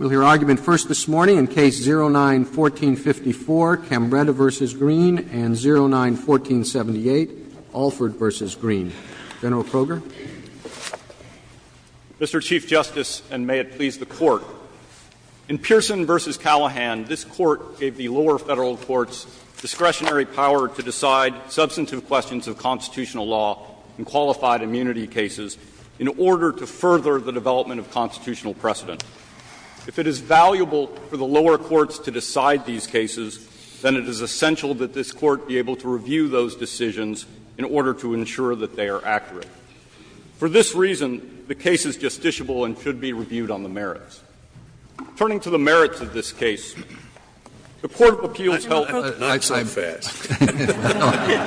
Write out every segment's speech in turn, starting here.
and 09-1478, Alford v. Greene. General Kroger. Mr. Chief Justice, and may it please the Court, in Pearson v. Callahan, this Court gave the lower federal courts discretionary power to decide substantive questions of constitutional law and qualified immunity cases in order to further the development of constitutional precedent. If it is valuable for the lower courts to decide these cases, then it is essential that this Court be able to review those decisions in order to ensure that they are accurate. For this reason, the case is justiciable and should be reviewed on the merits. Turning to the merits of this case, the Court of Appeals held that it was not so fast. Kennedy,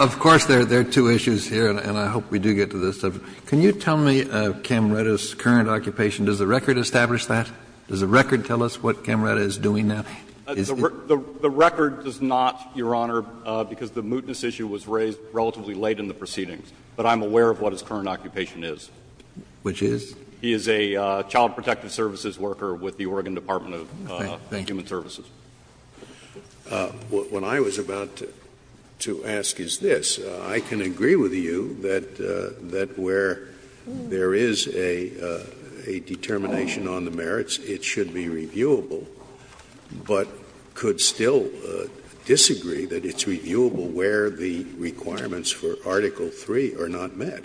of course, there are two issues here, and I hope we do get to this. Can you tell me of Camreta's current occupation? Does the record establish that? Does the record tell us what Camreta is doing now? The record does not, Your Honor, because the mootness issue was raised relatively late in the proceedings. But I'm aware of what his current occupation is. Which is? He is a child protective services worker with the Oregon Department of Human Services. Scalia, when I was about to ask you this, I can agree with you that where there is a determination on the merits, it should be reviewable, but could still disagree that it's reviewable where the requirements for Article III are not met,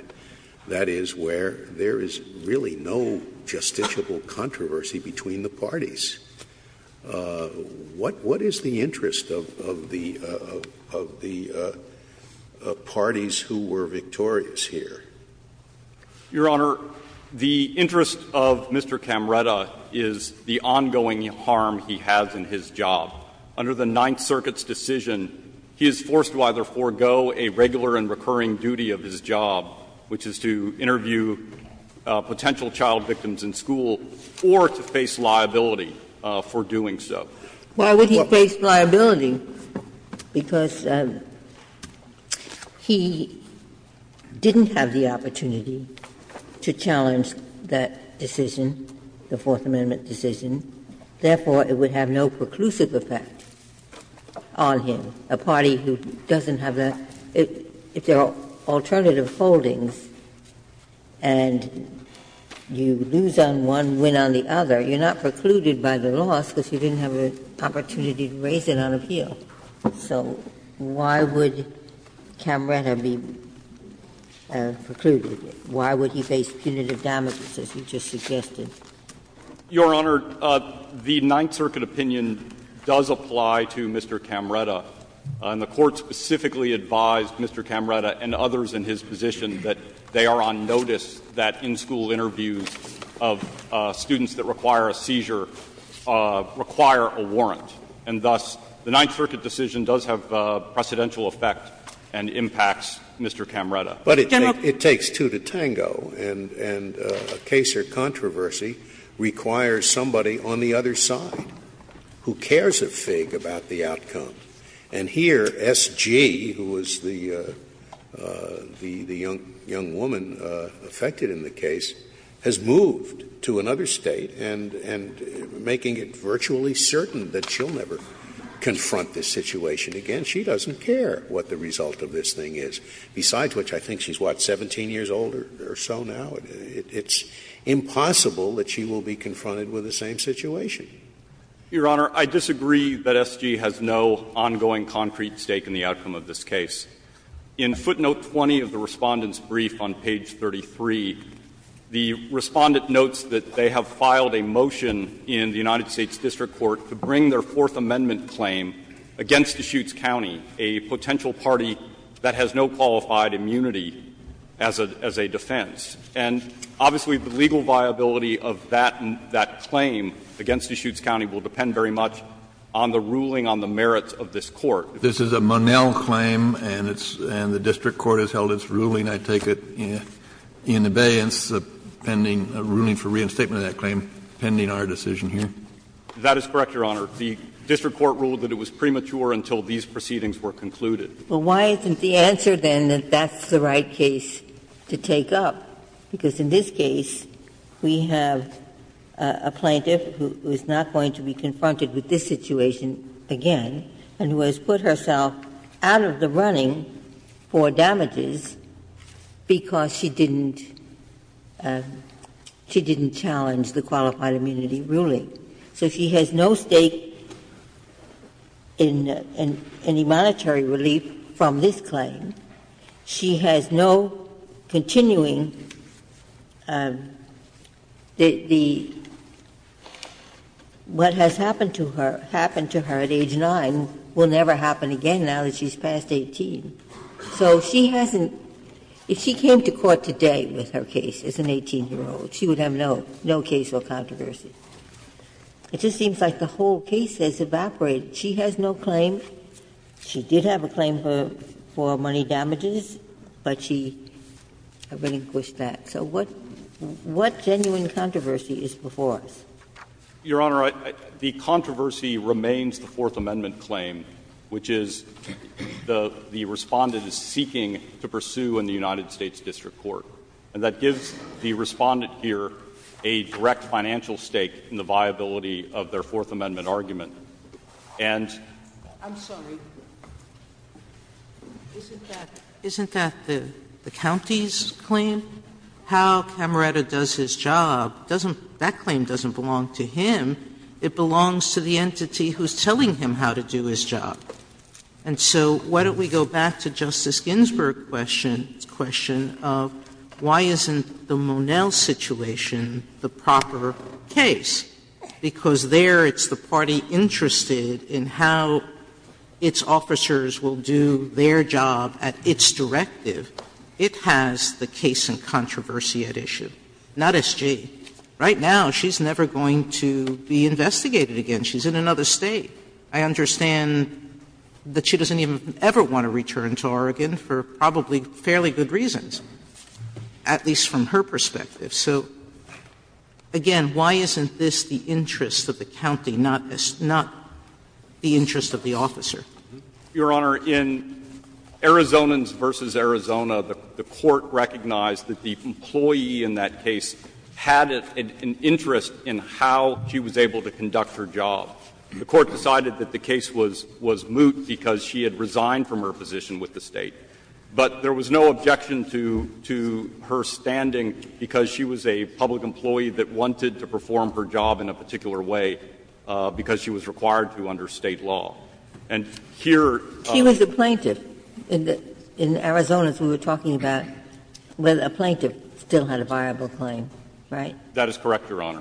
that is, where there is really no justiciable controversy between the parties. What is the interest of the parties who were victorious here? Your Honor, the interest of Mr. Camreta is the ongoing harm he has in his job. Under the Ninth Circuit's decision, he is forced to either forego a regular and recurring duty of his job, which is to interview potential child victims in school, or to face liability. For doing so. Why would he face liability? Because he didn't have the opportunity to challenge that decision, the Fourth Amendment decision. Therefore, it would have no preclusive effect on him. A party who doesn't have that, if there are alternative holdings and you lose on one, and you win on the other, you're not precluded by the loss because you didn't have the opportunity to raise it on appeal. So why would Camreta be precluded? Why would he face punitive damages, as you just suggested? Your Honor, the Ninth Circuit opinion does apply to Mr. Camreta, and the Court specifically advised Mr. Camreta and others in his position that they are on notice that in-school interviews of students that require a seizure require a warrant. And thus, the Ninth Circuit decision does have a precedential effect and impacts Mr. Camreta. But it takes two to tango, and a case or controversy requires somebody on the other side who cares a fig about the outcome. And here, S.G., who was the young woman affected in the case, has moved to another State and making it virtually certain that she'll never confront this situation again. She doesn't care what the result of this thing is. Besides which, I think she's, what, 17 years old or so now? It's impossible that she will be confronted with the same situation. Your Honor, I disagree that S.G. has no ongoing concrete stake in the outcome of this case. In footnote 20 of the Respondent's brief on page 33, the Respondent notes that they have filed a motion in the United States district court to bring their Fourth Amendment claim against Deschutes County, a potential party that has no qualified immunity as a defense. And obviously, the legal viability of that claim against Deschutes County will depend very much on the ruling on the merits of this Court. If this is a Monell claim and it's the district court has held its ruling, I take it in abeyance, pending a ruling for reinstatement of that claim, pending our decision here? That is correct, Your Honor. The district court ruled that it was premature until these proceedings were concluded. Ginsburg. Well, why isn't the answer, then, that that's the right case to take up? Because in this case, we have a plaintiff who is not going to be confronted with this situation again and who has put herself out of the running for damages because she didn't challenge the qualified immunity ruling. So she has no stake in any monetary relief from this claim. She has no continuing the what has happened to her, happened to her at age 9, will never happen again now that she's past 18. So she hasn't, if she came to court today with her case as an 18-year-old, she would have no case or controversy. It just seems like the whole case has evaporated. She has no claim. She did have a claim for money damages, but she relinquished that. So what genuine controversy is before us? Your Honor, the controversy remains the Fourth Amendment claim, which is the Respondent is seeking to pursue in the United States district court. And that gives the Respondent here a direct financial stake in the viability of their Fourth Amendment argument. And the Court has no claim. Sotomayor, I'm sorry. Isn't that the county's claim? How Camerata does his job, that claim doesn't belong to him. It belongs to the entity who is telling him how to do his job. And so why don't we go back to Justice Ginsburg's question of why isn't the Monell situation the proper case? Because there it's the party interested in how its officers will do their job at its directive. It has the case and controversy at issue. Not S.G. Right now, she's never going to be investigated again. She's in another State. I understand that she doesn't even ever want to return to Oregon for probably fairly good reasons, at least from her perspective. So, again, why isn't this the interest of the county, not the interest of the officer? Your Honor, in Arizonans v. Arizona, the Court recognized that the employee in that case had an interest in how she was able to conduct her job. The Court decided that the case was moot because she had resigned from her position with the State. But there was no objection to her standing because she was a public employee that wanted to perform her job in a particular way because she was required to under State law. And here the plaintiff in Arizona, as we were talking about, a plaintiff still had a viable claim, right? That is correct, Your Honor.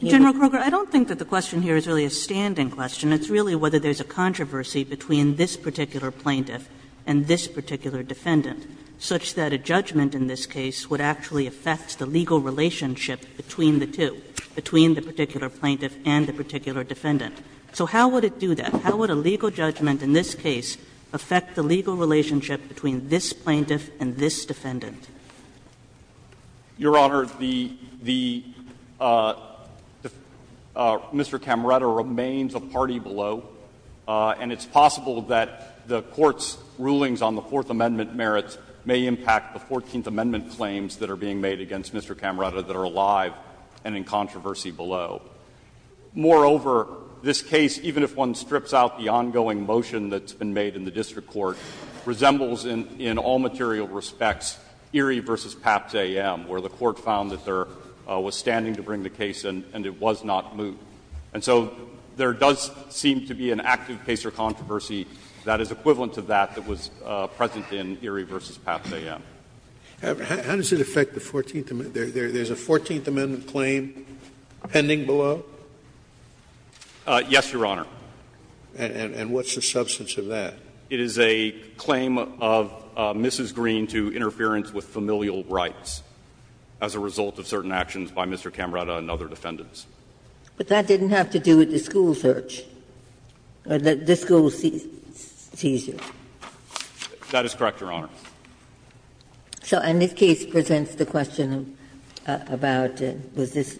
Kagan. General Kroger, I don't think that the question here is really a standing question. It's really whether there's a controversy between this particular plaintiff and this particular defendant, such that a judgment in this case would actually affect the legal relationship between the two, between the particular plaintiff and the particular defendant. So how would it do that? How would a legal judgment in this case affect the legal relationship between this plaintiff and this defendant? Your Honor, the Mr. Camretta remains a party below, and it's possible that the Court's rulings on the Fourth Amendment merits may impact the Fourteenth Amendment claims that are being made against Mr. Camretta that are alive and in controversy below. Moreover, this case, even if one strips out the ongoing motion that's been made in the case of Erie v. Papps A.M., where the Court found that there was standing to bring the case and it was not moved. And so there does seem to be an active case or controversy that is equivalent to that that was present in Erie v. Papps A.M. How does it affect the Fourteenth Amendment? There's a Fourteenth Amendment claim pending below? Yes, Your Honor. And what's the substance of that? It is a claim of Mrs. Green to interference with familial rights as a result of certain actions by Mr. Camretta and other defendants. But that didn't have to do with the school search, or the school seizure. That is correct, Your Honor. So in this case presents the question about was this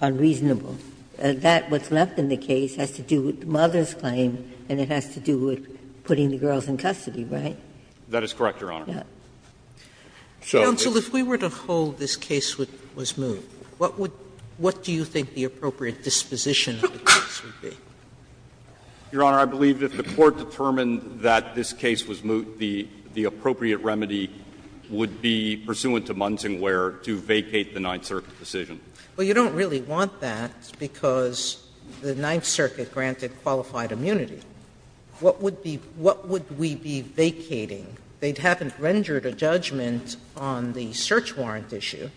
unreasonable. That, what's left in the case, has to do with the mother's claim and it has to do with putting the girls in custody, right? That is correct, Your Honor. Counsel, if we were to hold this case was moved, what would you think the appropriate disposition of the case would be? Your Honor, I believe that if the Court determined that this case was moved, the appropriate remedy would be pursuant to Munsingware to vacate the Ninth Circuit decision. Well, you don't really want that because the Ninth Circuit granted qualified immunity. What would be what would we be vacating? They haven't rendered a judgment on the search warrant issue.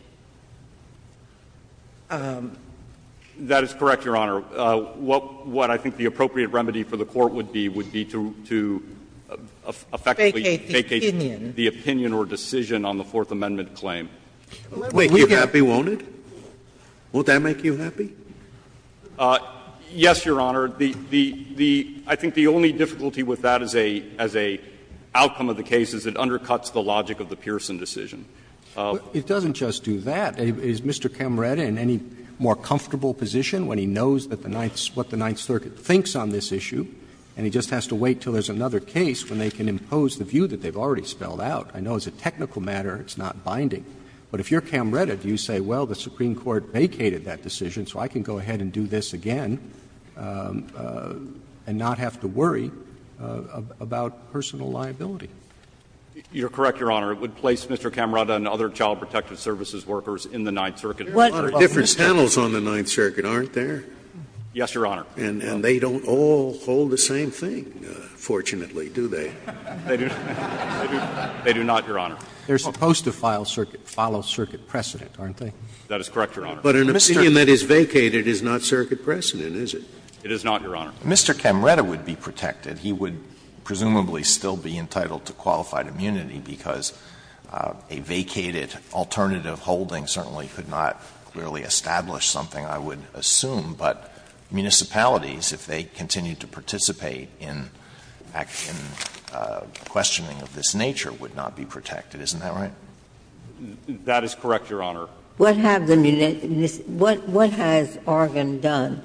That is correct, Your Honor. What I think the appropriate remedy for the Court would be would be to effectively vacate the opinion or decision on the Fourth Amendment claim. Scalia Make you happy, won't it? Won't that make you happy? Yes, Your Honor. The the the I think the only difficulty with that as a as a outcome of the case is it undercuts the logic of the Pearson decision. It doesn't just do that. Is Mr. Camretta in any more comfortable position when he knows that the Ninth what the Ninth Circuit thinks on this issue and he just has to wait till there's another case when they can impose the view that they've already spelled out? I know as a technical matter, it's not binding, but if you're Camretta, do you say, well, the Supreme Court vacated that decision, so I can go ahead and do this again and not have to worry about personal liability? You're correct, Your Honor. It would place Mr. Camretta and other child protective services workers in the Ninth Circuit. Different panels on the Ninth Circuit aren't there? Yes, Your Honor. And they don't all hold the same thing, fortunately, do they? They do not, Your Honor. They're supposed to file circuit – follow circuit precedent, aren't they? That is correct, Your Honor. But an opinion that is vacated is not circuit precedent, is it? It is not, Your Honor. Mr. Camretta would be protected. He would presumably still be entitled to qualified immunity because a vacated alternative holding certainly could not really establish something, I would assume, but municipalities, if they continue to participate in questioning of this nature, would not be protected, isn't that right? That is correct, Your Honor. What have the – what has Oregon done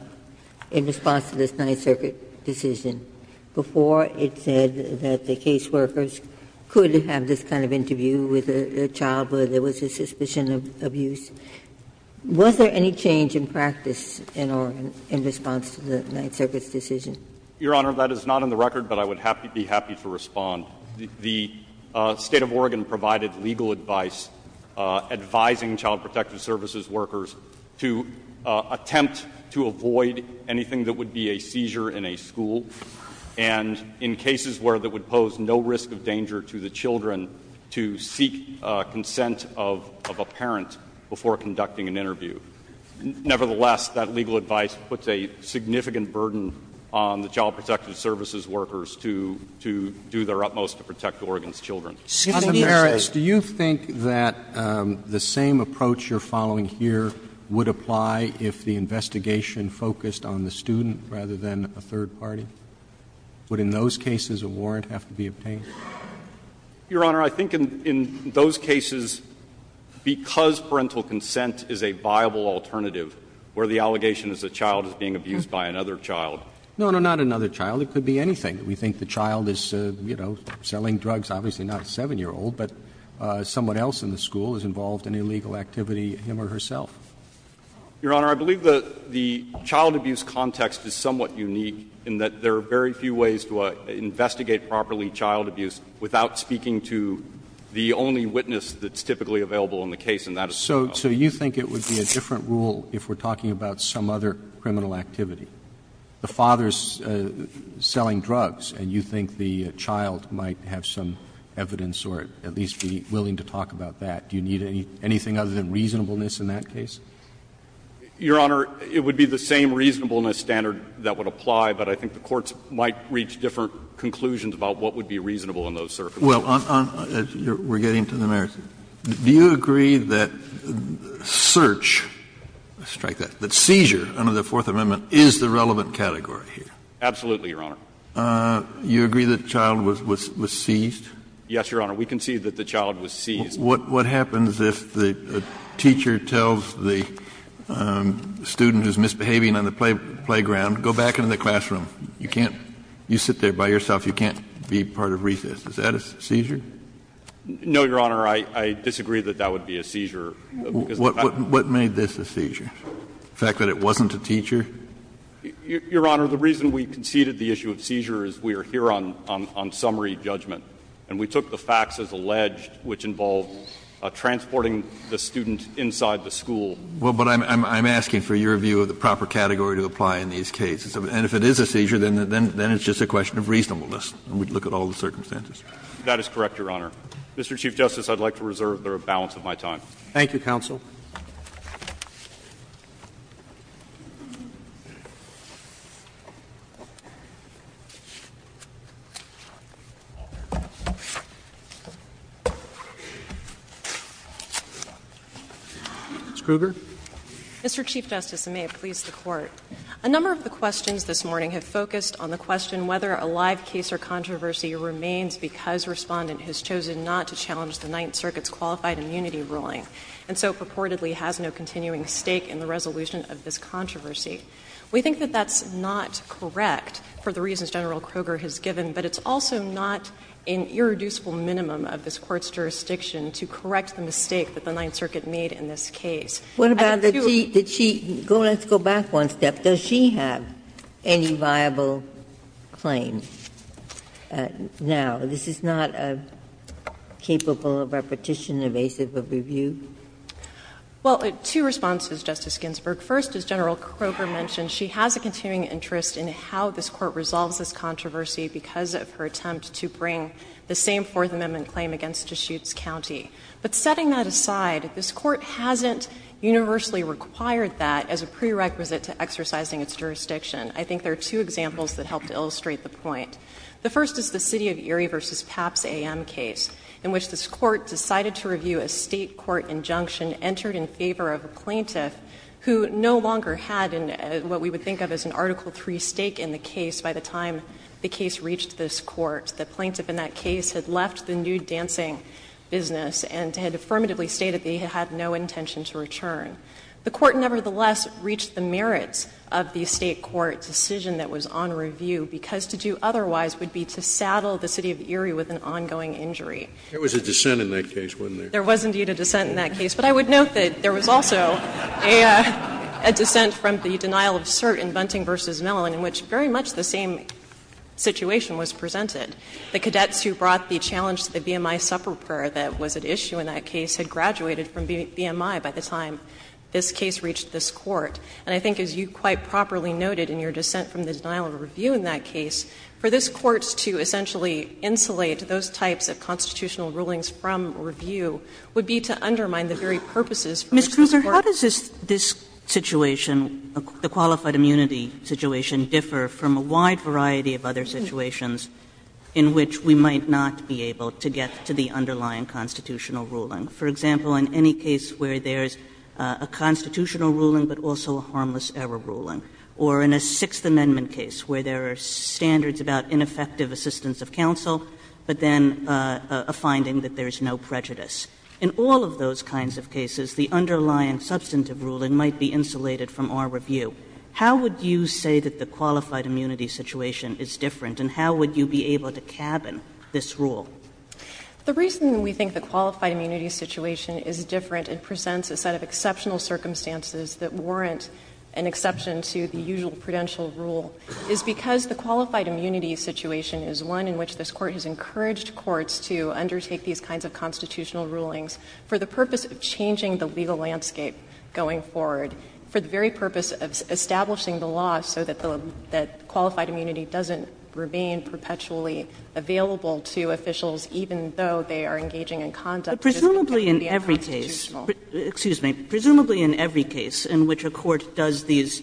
in response to this Ninth Circuit decision before it said that the caseworkers could have this kind of interview with a child where there was a suspicion of abuse? Was there any change in practice in Oregon in response to the Ninth Circuit's decision? Your Honor, that is not on the record, but I would be happy to respond. The State of Oregon provided legal advice advising Child Protective Services workers to attempt to avoid anything that would be a seizure in a school, and in cases where that would pose no risk of danger to the children, to seek consent of a parent before conducting an interview. Nevertheless, that legal advice puts a significant burden on the Child Protective Services workers to do their utmost to protect Oregon's children. Sotomayor, do you think that the same approach you are following here would apply if the investigation focused on the student rather than a third party? Would in those cases a warrant have to be obtained? Your Honor, I think in those cases, because parental consent is a viable alternative where the allegation is a child is being abused by another child. No, no, not another child. It could be anything. We think the child is, you know, selling drugs, obviously not a 7-year-old, but someone else in the school is involved in illegal activity, him or herself. Your Honor, I believe the child abuse context is somewhat unique in that there are very few ways to investigate properly child abuse without speaking to the only witness that's typically available in the case, and that is the child. So you think it would be a different rule if we're talking about some other criminal activity? The father is selling drugs, and you think the child might have some evidence or at least be willing to talk about that. Do you need anything other than reasonableness in that case? Your Honor, it would be the same reasonableness standard that would apply, but I think the courts might reach different conclusions about what would be reasonable on those surfaces. Kennedy, do you agree that search, let's strike that, that seizure under the Fourth Amendment is the relevant category here? Absolutely, Your Honor. You agree that the child was seized? Yes, Your Honor. We concede that the child was seized. What happens if the teacher tells the student who's misbehaving on the playground, go back into the classroom, you can't, you sit there by yourself, you can't be part of recess, is that a seizure? No, Your Honor, I disagree that that would be a seizure. What made this a seizure, the fact that it wasn't a teacher? Your Honor, the reason we conceded the issue of seizure is we are here on summary judgment, and we took the facts as alleged, which involved transporting the student inside the school. Well, but I'm asking for your view of the proper category to apply in these cases. And if it is a seizure, then it's just a question of reasonableness. We'd look at all the circumstances. That is correct, Your Honor. Mr. Chief Justice, I'd like to reserve the balance of my time. Thank you, counsel. Ms. Kruger. Mr. Chief Justice, and may it please the Court, a number of the questions this morning have focused on the question whether a live case or controversy remains because Respondent has chosen not to challenge the Ninth Circuit's qualified immunity ruling. And so purportedly has no continuing stake in the resolution of this controversy. We think that that's not correct for the reasons General Kruger has given, but it's also not an irreducible minimum of this Court's jurisdiction to correct the mistake that the Ninth Circuit made in this case. I have two. Ginsburg. Let's go back one step. Does she have any viable claims now? This is not a capable of repetition, evasive of review? Well, two responses, Justice Ginsburg. First, as General Kruger mentioned, she has a continuing interest in how this Court resolves this controversy because of her attempt to bring the same Fourth Amendment claim against Deschutes County. But setting that aside, this Court hasn't universally required that as a prerequisite to exercising its jurisdiction. I think there are two examples that help to illustrate the point. The first is the City of Erie v. Papps AM case, in which this Court decided to review a State court injunction entered in favor of a plaintiff who no longer had what we would think of as an Article III stake in the case by the time the case reached this Court. The plaintiff in that case had left the nude dancing business and had affirmatively stated that he had no intention to return. The Court nevertheless reached the merits of the State court decision that was on review because to do otherwise would be to saddle the City of Erie with an ongoing injury. There was a dissent in that case, wasn't there? There was indeed a dissent in that case. But I would note that there was also a dissent from the denial of cert in Bunting v. Mellon in which very much the same situation was presented. The cadets who brought the challenge to the VMI supper prayer that was at issue in that case had graduated from VMI by the time this case reached this Court. And I think as you quite properly noted in your dissent from the denial of review in that case, for this Court to essentially insulate those types of constitutional rulings from review would be to undermine the very purposes for which this Court was. Kagan. Ms. Kruger, how does this situation, the qualified immunity situation, differ from a wide variety of other situations in which we might not be able to get to the underlying constitutional ruling? For example, in any case where there is a constitutional ruling, but also a harmless error ruling, or in a Sixth Amendment case where there are standards about ineffective assistance of counsel, but then a finding that there is no prejudice. In all of those kinds of cases, the underlying substantive ruling might be insulated from our review. How would you say that the qualified immunity situation is different, and how would you be able to cabin this rule? The reason we think the qualified immunity situation is different and presents a set of exceptional circumstances that warrant an exception to the usual prudential rule is because the qualified immunity situation is one in which this Court has encouraged courts to undertake these kinds of constitutional rulings for the purpose of changing the legal landscape going forward, for the very purpose of establishing the law so that individuals, even though they are engaging in conduct that isn't going to be unconstitutional. Kagan Presumably in every case, excuse me, presumably in every case in which a court does these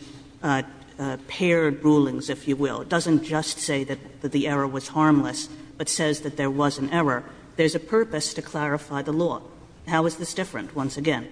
paired rulings, if you will, doesn't just say that the error was harmless, but says that there was an error, there is a purpose to clarify the law. How is this different, once again?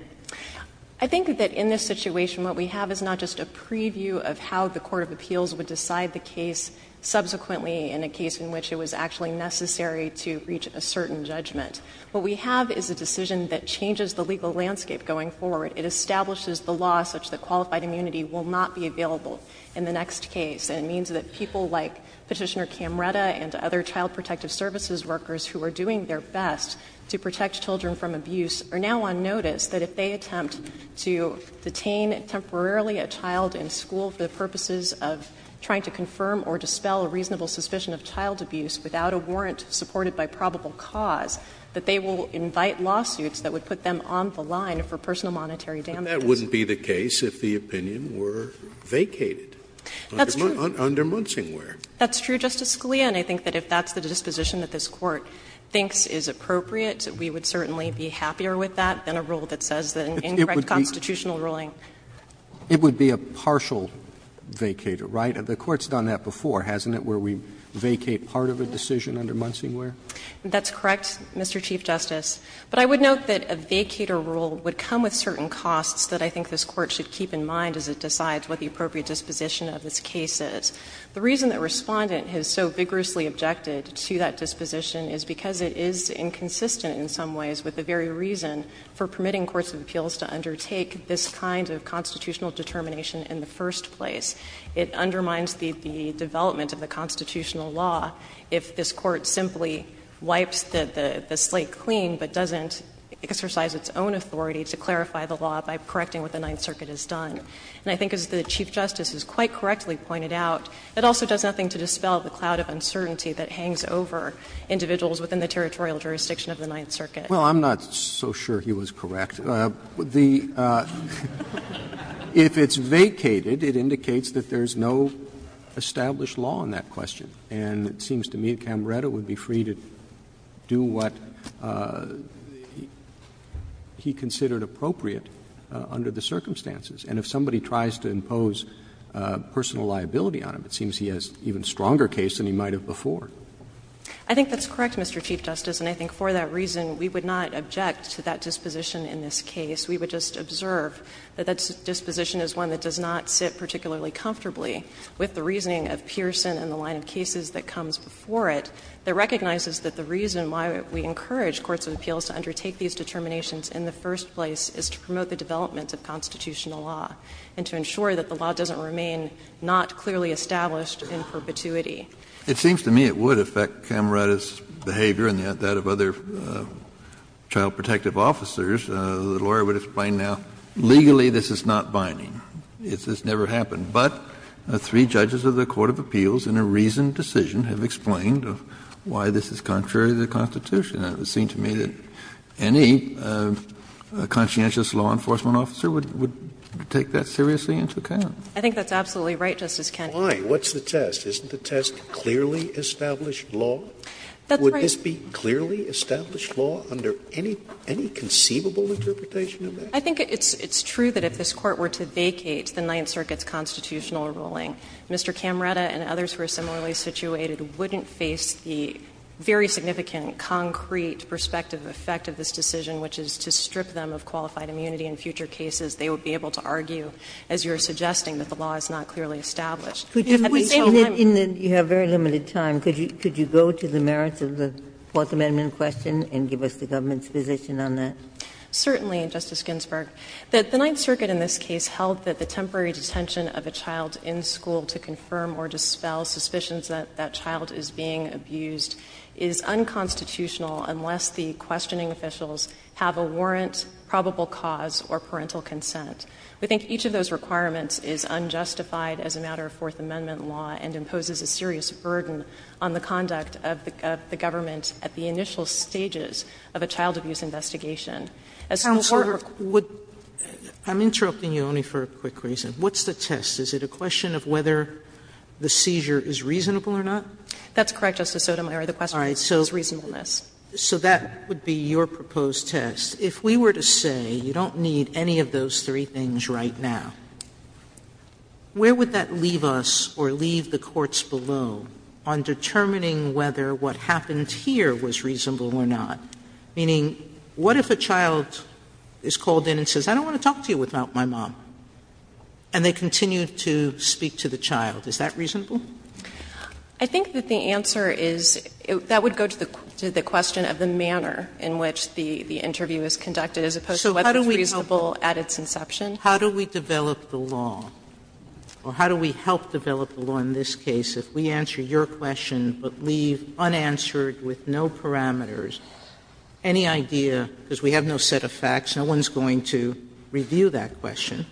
I think that in this situation what we have is not just a preview of how the court of appeals would decide the case subsequently in a case in which it was actually necessary to reach a certain judgment. What we have is a decision that changes the legal landscape going forward. It establishes the law such that qualified immunity will not be available in the next case, and it means that people like Petitioner Camretta and other child protective services workers who are doing their best to protect children from abuse are now on notice that if they attempt to detain temporarily a child in school for the purposes of trying to confirm or dispel a reasonable suspicion of child abuse without a warrant supported by probable cause, that they will invite lawsuits that would put them on the line for personal monetary damages. Scalia But that wouldn't be the case if the opinion were vacated under Munsingwear. Kagan That's true, Justice Scalia, and I think that if that's the disposition that this Court thinks is appropriate, we would certainly be happier with that than a rule that says that an incorrect constitutional ruling. Roberts It would be a partial vacator, right? The Court's done that before, hasn't it, where we vacate part of a decision under Munsingwear? Kagan That's correct, Mr. Chief Justice. But I would note that a vacator rule would come with certain costs that I think this Court should keep in mind as it decides what the appropriate disposition of this case is. The reason that Respondent has so vigorously objected to that disposition is because it is inconsistent in some ways with the very reason for permitting courts of appeals to undertake this kind of constitutional determination in the first place. It undermines the development of the constitutional law if this Court simply wipes the slate clean but doesn't exercise its own authority to clarify the law by correcting what the Ninth Circuit has done. And I think as the Chief Justice has quite correctly pointed out, it also does nothing to dispel the cloud of uncertainty that hangs over individuals within the territorial jurisdiction of the Ninth Circuit. Roberts Well, I'm not so sure he was correct. The ---- If it's vacated, it indicates that there is no established law in that question, and it seems to me Camerata would be free to do what he considered appropriate under the circumstances. And if somebody tries to impose personal liability on him, it seems he has an even stronger case than he might have before. Kagan I think that's correct, Mr. Chief Justice. And I think for that reason, we would not object to that disposition in this case. We would just observe that that disposition is one that does not sit particularly comfortably with the reasoning of Pearson and the line of cases that comes before it, that recognizes that the reason why we encourage courts of appeals to undertake these determinations in the first place is to promote the development of constitutional law and to ensure that the law doesn't remain not clearly established in perpetuity. Kennedy It seems to me it would affect Camerata's behavior and that of other child protective officers. The lawyer would explain now, legally this is not binding. This has never happened. But three judges of the court of appeals in a reasoned decision have explained why this is contrary to the Constitution. It would seem to me that any conscientious law enforcement officer would take that seriously into account. I think that's absolutely right, Justice Kennedy. Scalia Why? What's the test? Isn't the test clearly established law? Would this be clearly established law under any conceivable interpretation of that? I think it's true that if this Court were to vacate the Ninth Circuit's constitutional ruling, Mr. Camerata and others who are similarly situated wouldn't face the very significant, concrete, perspective effect of this decision, which is to strip them of qualified immunity in future cases. They would be able to argue, as you are suggesting, that the law is not clearly established. At the same time You have very limited time. Could you go to the merits of the Fourth Amendment question and give us the government's position on that? Certainly, Justice Ginsburg. The Ninth Circuit in this case held that the temporary detention of a child in school to confirm or dispel suspicions that that child is being abused is unconstitutional unless the questioning officials have a warrant, probable cause, or parental consent. We think each of those requirements is unjustified as a matter of Fourth Amendment law and imposes a serious burden on the conduct of the government at the initial stages of a child abuse investigation. As the Court of Court Counsel, I'm interrupting you only for a quick reason. What's the test? Is it a question of whether the seizure is reasonable or not? That's correct, Justice Sotomayor. The question is reasonableness. So that would be your proposed test. If we were to say you don't need any of those three things right now, where would that leave us or leave the courts below on determining whether what happened here was reasonable or not? Meaning, what if a child is called in and says, I don't want to talk to you without my mom, and they continue to speak to the child? Is that reasonable? I think that the answer is that would go to the question of the manner in which the interview is conducted, as opposed to whether it's reasonable at its inception. Sotomayor, how do we develop the law, or how do we help develop the law in this case if we answer your question but leave unanswered with no parameters, any idea because we have no set of facts, no one is going to review that question,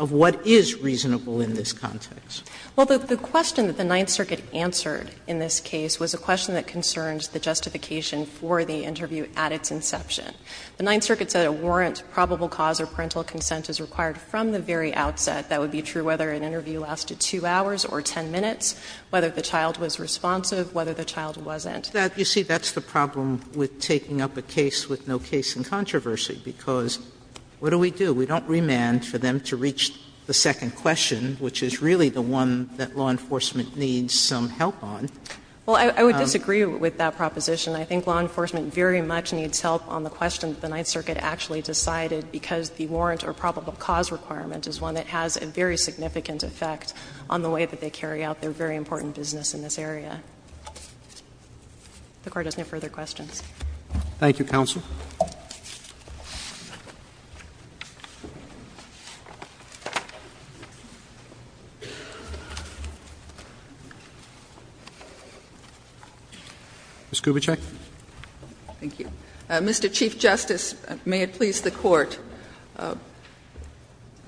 of what is reasonable in this context? Well, the question that the Ninth Circuit answered in this case was a question that concerns the justification for the interview at its inception. The Ninth Circuit said a warrant, probable cause, or parental consent is required from the very outset. That would be true whether an interview lasted 2 hours or 10 minutes, whether the child was responsive, whether the child wasn't. Sotomayor, you see, that's the problem with taking up a case with no case in controversy, because what do we do? We don't remand for them to reach the second question, which is really the one that law enforcement needs some help on. Well, I would disagree with that proposition. I think law enforcement very much needs help on the question that the Ninth Circuit actually decided, because the warrant or probable cause requirement is one that has a very significant effect on the way that they carry out their very important business in this area. If the Court has no further questions. Roberts, thank you, counsel. Ms. Kubitschek. Thank you. Mr. Chief Justice, may it please the Court,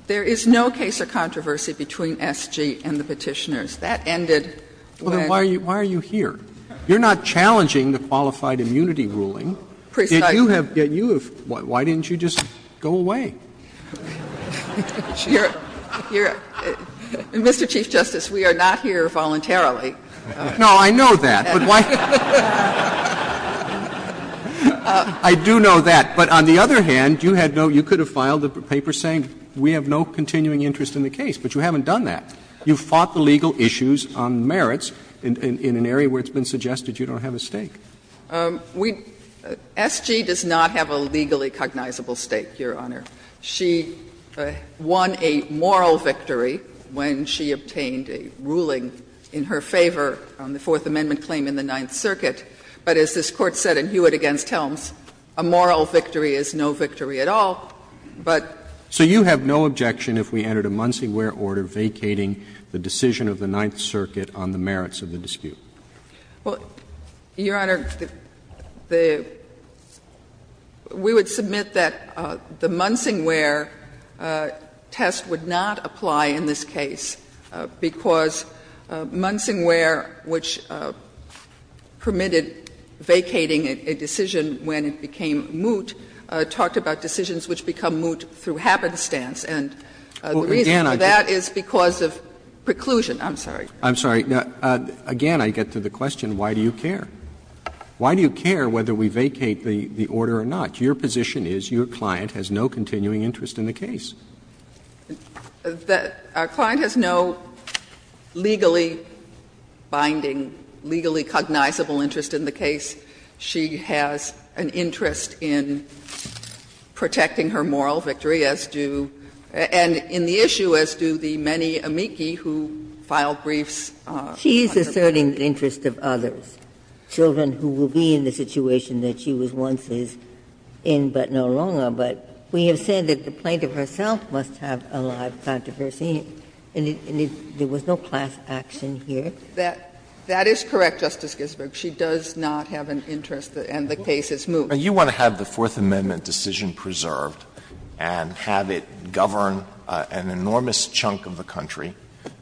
there is no case of controversy between SG and the Petitioners. That ended when you were here. You are not challenging the qualified immunity ruling. Precisely. Why didn't you just go away? Mr. Chief Justice, we are not here voluntarily. No, I know that, but why? I do know that. But on the other hand, you had no you could have filed a paper saying we have no continuing interest in the case, but you haven't done that. You fought the legal issues on merits in an area where it's been suggested you don't have a stake. SG does not have a legally cognizable stake, Your Honor. She won a moral victory when she obtained a ruling in her favor on the Fourth Amendment claim in the Ninth Circuit, but as this Court said in Hewitt v. Helms, a moral victory is no victory at all, but. So you have no objection if we entered a Muncie Ware order vacating the decision of the Ninth Circuit on the merits of the dispute? Well, Your Honor, the we would submit that the Muncie Ware test would not apply in this case because Muncie Ware, which permitted vacating a decision when it became moot, talked about decisions which become moot through happenstance. And the reason for that is because of preclusion. I'm sorry. I'm sorry. Again, I get to the question, why do you care? Why do you care whether we vacate the order or not? Your position is your client has no continuing interest in the case. Our client has no legally binding, legally cognizable interest in the case. She has an interest in protecting her moral victory as do and in the issue as do the many amici who file briefs. She is asserting the interest of others, children who will be in the situation that she was once in, but no longer. But we have said that the plaintiff herself must have a live controversy, and there was no class action here. That is correct, Justice Ginsburg. She does not have an interest, and the case is moot. You want to have the Fourth Amendment decision preserved and have it govern an enormous chunk of the country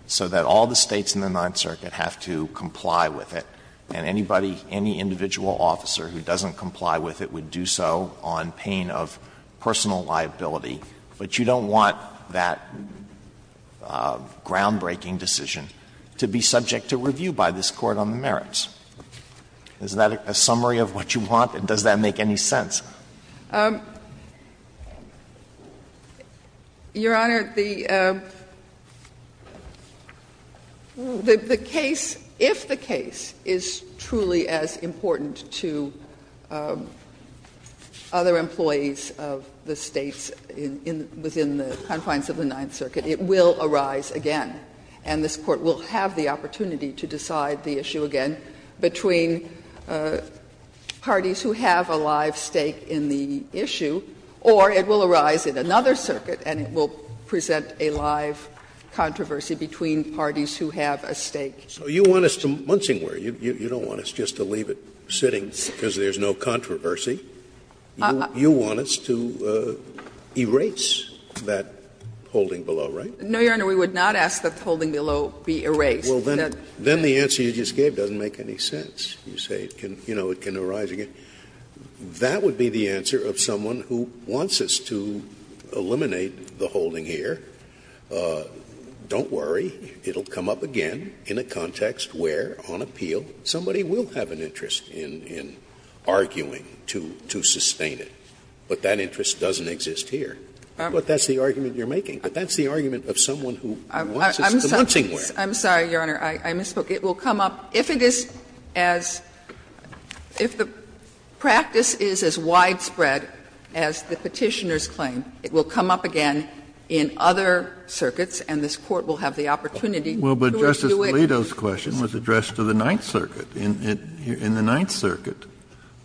so that all the States in the Ninth Circuit have to comply with it, and anybody, any individual officer who doesn't comply with it would do so on pain of personal liability, but you don't want that groundbreaking decision to be subject to review by this Court on the merits. Is that a summary of what you want, and does that make any sense? Your Honor, the case, if the case is truly as important to other employees of the States within the confines of the Ninth Circuit, it will arise again, and this Court will have the opportunity to decide the issue again between parties who have a live stake in the issue, or it will arise in another circuit and it will present a live controversy between parties who have a stake. So you want us to munching where? You don't want us just to leave it sitting because there's no controversy. You want us to erase that holding below, right? No, Your Honor. We would not ask that the holding below be erased. Well, then the answer you just gave doesn't make any sense. You say it can, you know, it can arise again. That would be the answer of someone who wants us to eliminate the holding here. Don't worry. It will come up again in a context where, on appeal, somebody will have an interest in arguing to sustain it, but that interest doesn't exist here. But that's the argument you're making. That's the argument of someone who wants us to munching where. I'm sorry, Your Honor. I misspoke. It will come up, if it is as — if the practice is as widespread as the Petitioner's claim, it will come up again in other circuits and this Court will have the opportunity to resume it. Well, but Justice Alito's question was addressed to the Ninth Circuit. In the Ninth Circuit,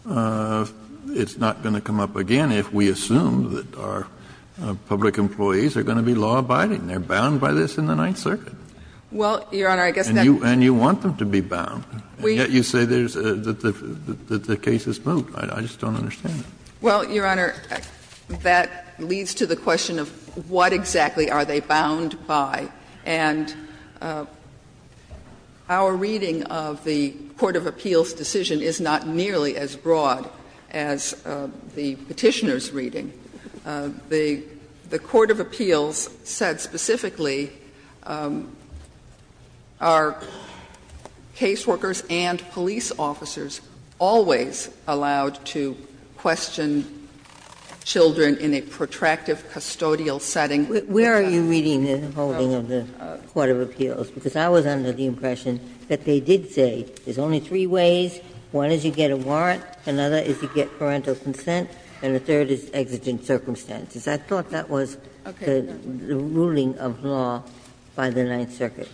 it's not going to come up again if we assume that our public employees are going to be law-abiding. They're bound by this in the Ninth Circuit. Well, Your Honor, I guess that's not true. And you want them to be bound, yet you say there's — that the case has moved. I just don't understand it. Well, Your Honor, that leads to the question of what exactly are they bound by. And our reading of the court of appeals' decision is not nearly as broad as the Petitioner's reading. The court of appeals said specifically, are caseworkers and police officers always allowed to question children in a protractive custodial setting? Where are you reading the holding of the court of appeals? Because I was under the impression that they did say, there's only three ways. One is you get a warrant, another is you get parental consent, and the third is exigent circumstances. I thought that was the ruling of law by the Ninth Circuit.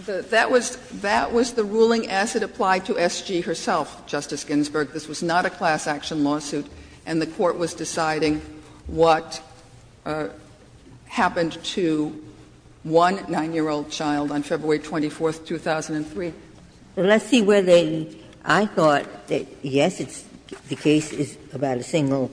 That was the ruling as it applied to SG herself, Justice Ginsburg. This was not a class-action lawsuit, and the court was deciding what happened to one 9-year-old child on February 24, 2003. Let's see whether they — I thought that, yes, the case is about a single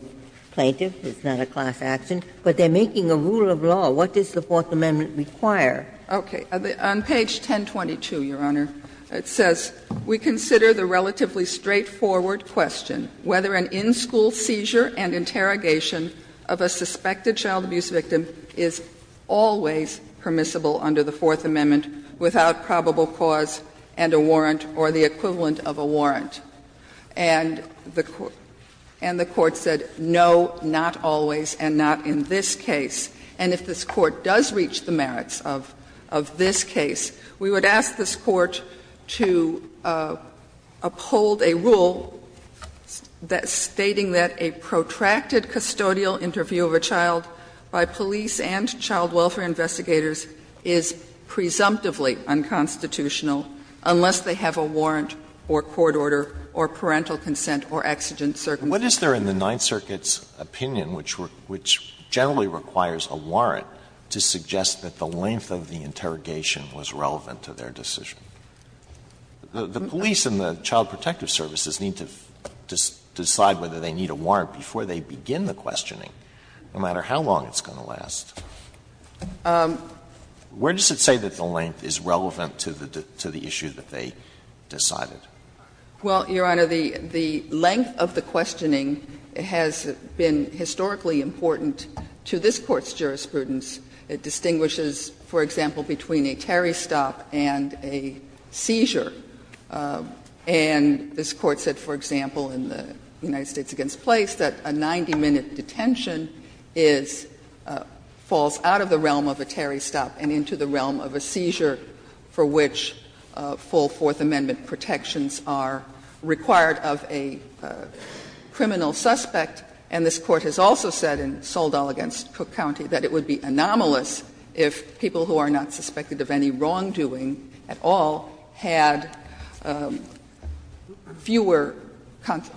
plaintiff, it's not a class-action, but they're making a rule of law. What does the Fourth Amendment require? Okay. On page 1022, Your Honor, it says, We consider the relatively straightforward question whether an in-school seizure and interrogation of a suspected child abuse victim is always permissible under the Fourth Amendment without probable cause and a warrant or the equivalent of a warrant. And the court said, no, not always, and not in this case. And if this Court does reach the merits of this case, we would ask this Court to uphold a rule stating that a protracted custodial interview of a child by police and child welfare investigators is presumptively unconstitutional unless they have a warrant or court order or parental consent or exigent circumstances. Alito What is there in the Ninth Circuit's opinion which generally requires a warrant to suggest that the length of the interrogation was relevant to their decision? The police and the child protective services need to decide whether they need a warrant before they begin the questioning, no matter how long it's going to last. Where does it say that the length is relevant to the issue that they decided? Well, Your Honor, the length of the questioning has been historically important to this Court's jurisprudence. It distinguishes, for example, between a Terry stop and a seizure. And this Court said, for example, in the United States against Place, that a 90-minute detention falls out of the realm of a Terry stop and into the realm of a seizure for which full Fourth Amendment protections are required of a criminal suspect. And this Court has also said in Soldall v. Cook County that it would be anomalous if people who are not suspected of any wrongdoing at all had fewer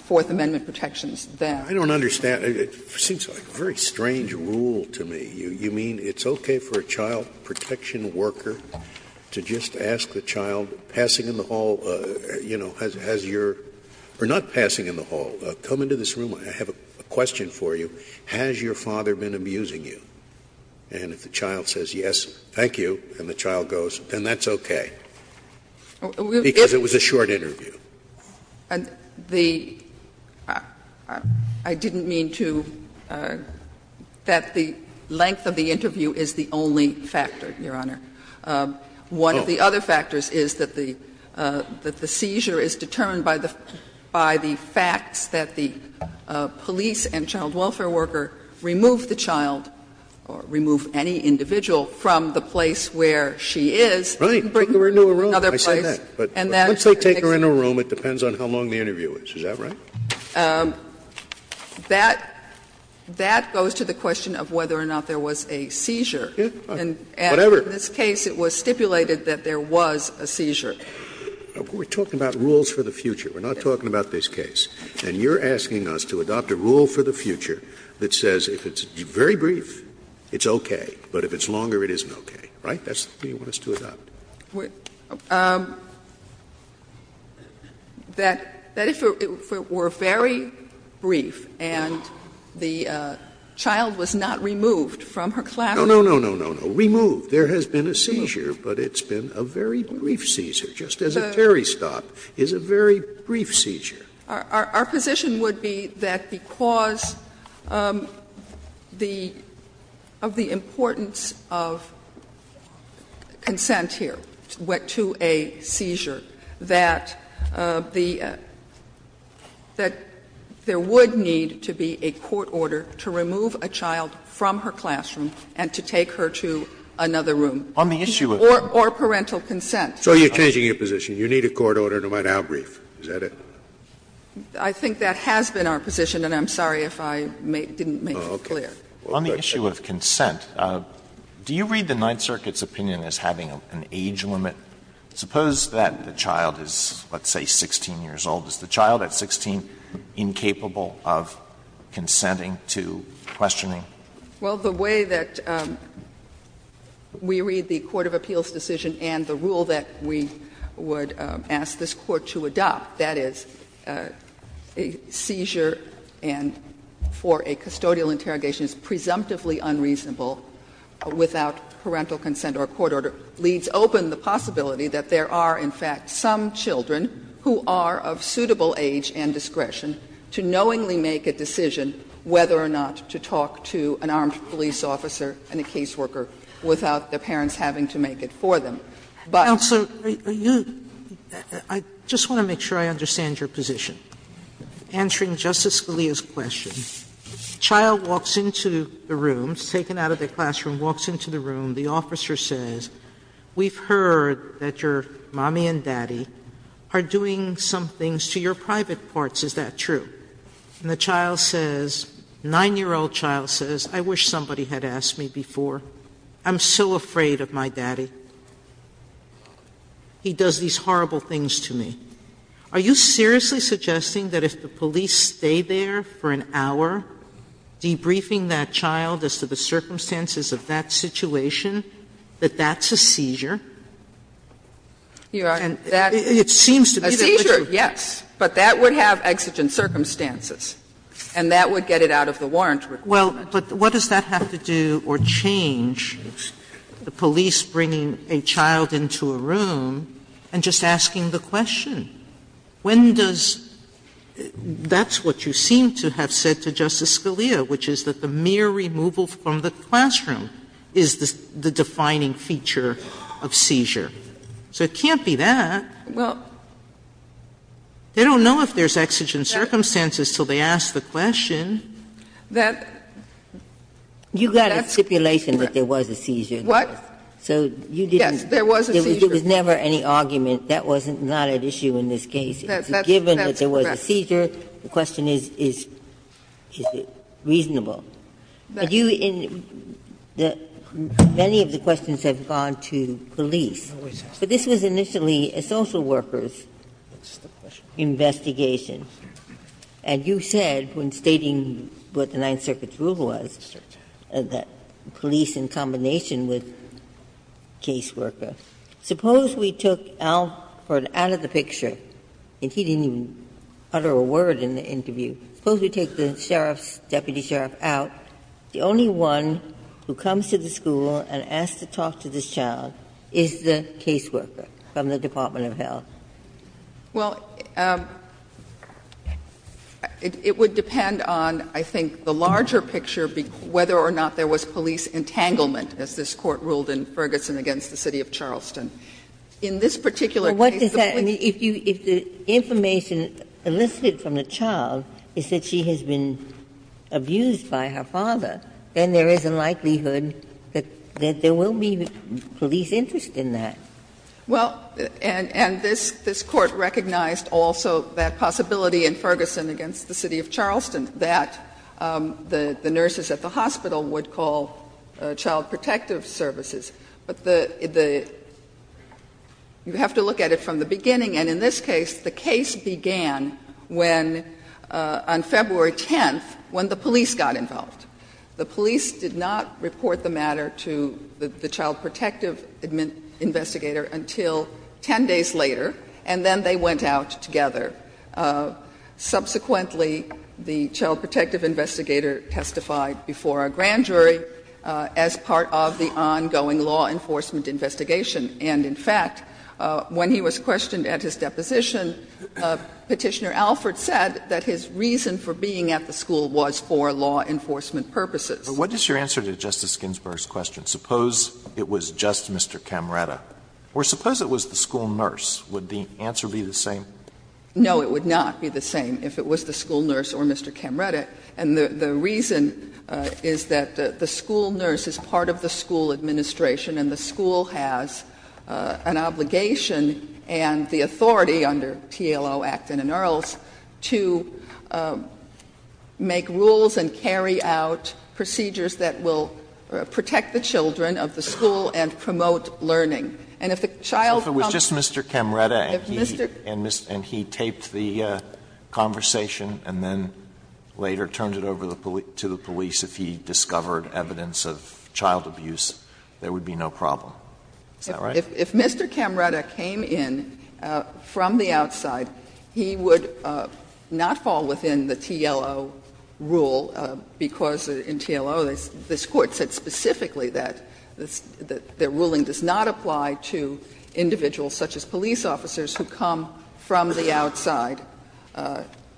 Fourth Amendment protections than. Scalia, I don't understand. It seems like a very strange rule to me. You mean it's okay for a child protection worker to just ask the child, passing in the hall, you know, has your or not passing in the hall, come into this room, I have a question for you, has your father been abusing you? And if the child says yes, thank you, and the child goes, then that's okay, because it was a short interview. And the – I didn't mean to – that the length of the interview is the only factor, Your Honor. One of the other factors is that the seizure is determined by the facts that the police and child welfare worker remove the child or remove any individual from the place where she is. Right. And bring her into a room. I said that. But once they take her in a room, it depends on how long the interview is. Is that right? That goes to the question of whether or not there was a seizure. And in this case, it was stipulated that there was a seizure. We're talking about rules for the future. We're not talking about this case. And you're asking us to adopt a rule for the future that says if it's very brief, it's okay, but if it's longer, it isn't okay. Right? That's what you want us to adopt. That if it were very brief and the child was not removed from her classroom. No, no, no, no, no. Removed. There has been a seizure, but it's been a very brief seizure, just as a Terry stop is a very brief seizure. Our position would be that because of the importance of consent here to a seizure, that there would need to be a court order to remove a child from her classroom and to take her to another room. On the issue of. Or parental consent. So you're changing your position. You need a court order to write out a brief. Is that it? I think that has been our position, and I'm sorry if I didn't make it clear. Alito, on the issue of consent, do you read the Ninth Circuit's opinion as having an age limit? Suppose that the child is, let's say, 16 years old. Is the child at 16 incapable of consenting to questioning? Well, the way that we read the court of appeals decision and the rule that we would ask this Court to adopt, that is, a seizure and for a custodial interrogation is presumptively unreasonable without parental consent or a court order, leads open the possibility that there are, in fact, some children who are of suitable age and discretion to knowingly make a decision whether or not to talk to an armed police officer and a caseworker without the parents having to make it for them. But you don't have to make it for them. Sotomayor, I just want to make sure I understand your position. Answering Justice Scalia's question, the child walks into the room, is taken out of the classroom, walks into the room, the officer says, we've heard that your mommy and daddy are doing some things to your private parts, is that true? And the child says, 9-year-old child says, I wish somebody had asked me before. I'm so afraid of my daddy. He does these horrible things to me. Are you seriously suggesting that if the police stay there for an hour debriefing that child as to the circumstances of that situation, that that's a seizure? It seems to me that it's a seizure. Yes, but that would have exigent circumstances, and that would get it out of the Sotomayor, but what does that have to do or change, the police bringing a child into a room and just asking the question? When does that's what you seem to have said to Justice Scalia, which is that the mere removal from the classroom is the defining feature of seizure. So it can't be that. They don't know if there's exigent circumstances until they ask the question. You've got a stipulation that there was a seizure. So you didn't, there was never any argument, that was not at issue in this case. Given that there was a seizure, the question is, is it reasonable? Many of the questions have gone to police. But this was initially a social worker's investigation. And you said when stating what the Ninth Circuit's rule was, that police in combination with caseworker. Suppose we took Alford out of the picture, and he didn't even utter a word in the interview. Suppose we take the sheriff's, deputy sheriff, out. The only one who comes to the school and asks to talk to this child is the caseworker from the Department of Health. Well, it would depend on, I think, the larger picture, whether or not there was police entanglement, as this Court ruled in Ferguson against the city of Charleston. In this particular case, the police. Ginsburg-McCabeny If you, if the information elicited from the child is that she has been abused by her father, then there is a likelihood that there will be police interest in that. Well, and this Court recognized also that possibility in Ferguson against the city of Charleston that the nurses at the hospital would call child protective services. But the, the, you have to look at it from the beginning, and in this case, the case began when, on February 10th, when the police got involved. The police did not report the matter to the child protective investigator until 10 days later, and then they went out together. Subsequently, the child protective investigator testified before a grand jury as part of the ongoing law enforcement investigation. And in fact, when he was questioned at his deposition, Petitioner Alford said that his reason for being at the school was for law enforcement purposes. Alito What is your answer to Justice Ginsburg's question? Suppose it was just Mr. Camretta, or suppose it was the school nurse, would the answer be the same? No, it would not be the same if it was the school nurse or Mr. Camretta. And the reason is that the school nurse is part of the school administration, and the school has an obligation and the authority under TLO Act and in Earls to make rules and carry out procedures that will protect the children of the school and promote learning. And if the child comes to the school and the school nurse is not there, then the child If Mr. Camretta came in from the outside, he would not fall within the TLO rule, because in TLO, this Court said specifically that the ruling does not apply to individuals such as police officers who come from the outside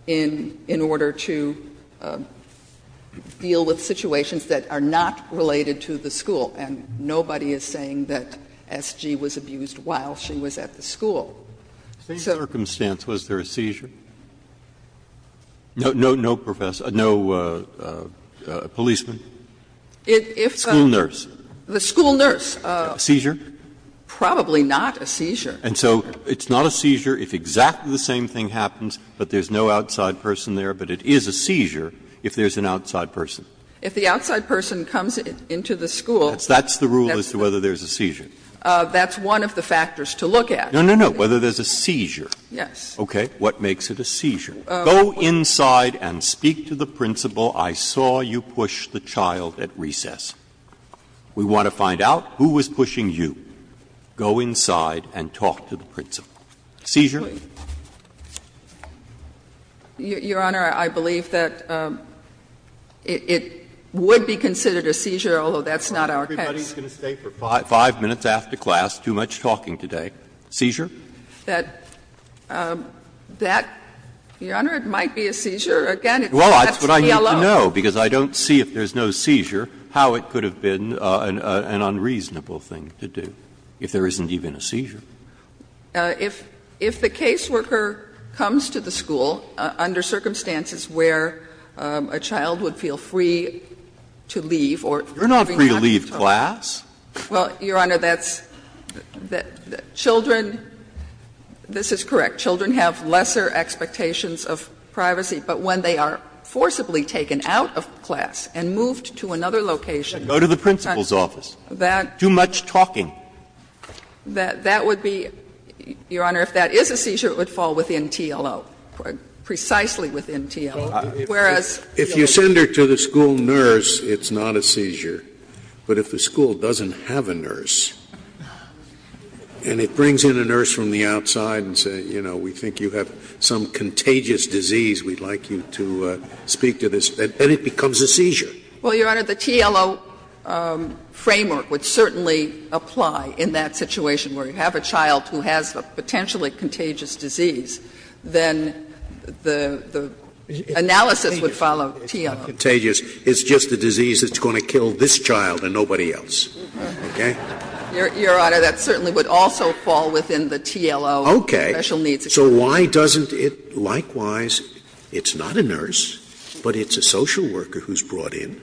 in order to protect the children deal with situations that are not related to the school, and nobody is saying that S.G. was abused while she was at the school. So the circumstance, was there a seizure? No, no, no, professor, no policeman, school nurse. The school nurse. Seizure? Probably not a seizure. And so it's not a seizure if exactly the same thing happens, but there's no outside person there, but it is a seizure if there's an outside person. If the outside person comes into the school. That's the rule as to whether there's a seizure. That's one of the factors to look at. No, no, no. Whether there's a seizure. Yes. Okay. What makes it a seizure? Go inside and speak to the principal. I saw you push the child at recess. We want to find out who was pushing you. Go inside and talk to the principal. Seizure? Your Honor, I believe that it would be considered a seizure, although that's not our case. Everybody's going to stay for 5 minutes after class, too much talking today. Seizure? That, Your Honor, it might be a seizure. Again, that's the LO. Well, that's what I need to know, because I don't see, if there's no seizure, how it could have been an unreasonable thing to do, if there isn't even a seizure. If the caseworker comes to the school under circumstances where a child would feel free to leave or not be told. You're not free to leave class. Well, Your Honor, that's the children, this is correct, children have lesser expectations of privacy. But when they are forcibly taken out of class and moved to another location. Go to the principal's office. Too much talking. That would be, Your Honor, if that is a seizure, it would fall within TLO, precisely within TLO. Whereas. If you send her to the school nurse, it's not a seizure. But if the school doesn't have a nurse and it brings in a nurse from the outside and says, you know, we think you have some contagious disease, we'd like you to speak to this, then it becomes a seizure. Well, Your Honor, the TLO framework would certainly apply in that situation where you have a child who has a potentially contagious disease, then the analysis would follow TLO. It's not contagious. It's just a disease that's going to kill this child and nobody else. Okay? Your Honor, that certainly would also fall within the TLO. Okay. Special needs. So why doesn't it likewise, it's not a nurse, but it's a social worker who's brought in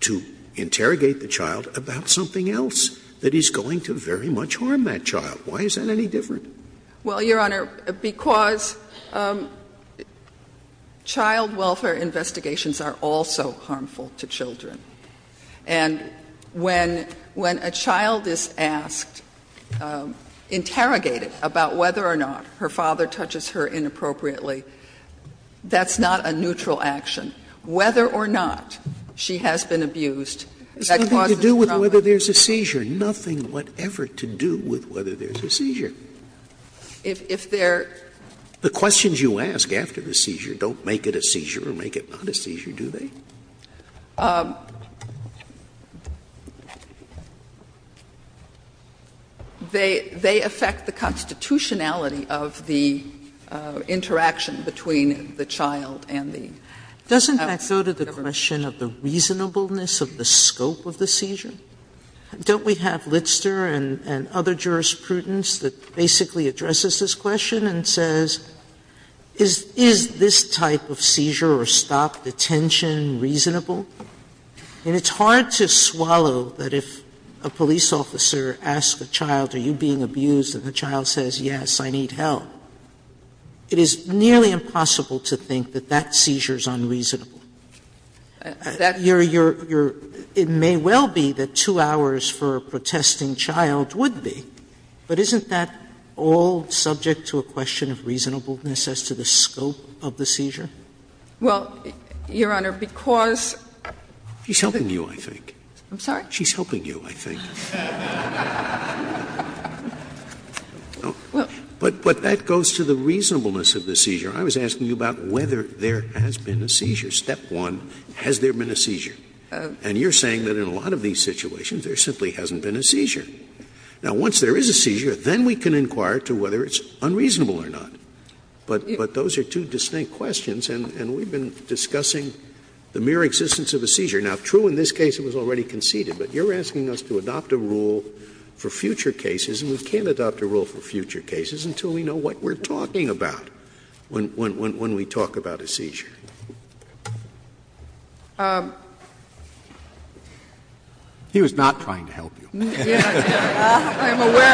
to interrogate the child about something else that is going to very much harm that child? Why is that any different? Well, Your Honor, because child welfare investigations are also harmful to children. And when a child is asked, interrogated about whether or not her father touches her inappropriately, that's not a neutral action. Whether or not she has been abused, that causes trauma. Sotomayor It has nothing to do with whether there's a seizure, nothing whatever to do with whether there's a seizure. The questions you ask after the seizure don't make it a seizure or make it not a seizure, do they? They affect the constitutionality of the interaction between the child and the government. Sotomayor Doesn't that go to the question of the reasonableness of the scope of the seizure? Don't we have Litzter and other jurisprudence that basically addresses this question and says, is this type of seizure or stop, detention, reasonable? And it's hard to swallow that if a police officer asks a child, are you being abused, and the child says, yes, I need help, it is nearly impossible to think that that seizure is unreasonable. It may well be that 2 hours for a protesting child would be, but isn't that all subject to a question of reasonableness as to the scope of the seizure? Sotomayor Well, Your Honor, because Scalia She's helping you, I think. Sotomayor I'm sorry? Scalia She's helping you, I think. But that goes to the reasonableness of the seizure. I was asking you about whether there has been a seizure. Step one, has there been a seizure? And you're saying that in a lot of these situations there simply hasn't been a seizure. Now, once there is a seizure, then we can inquire to whether it's unreasonable or not. But those are two distinct questions, and we've been discussing the mere existence of a seizure. Now, true, in this case it was already conceded, but you're asking us to adopt a rule for future cases, and we can't adopt a rule for future cases until we know what we're talking about when we talk about a seizure. He was not trying to help you. I'm aware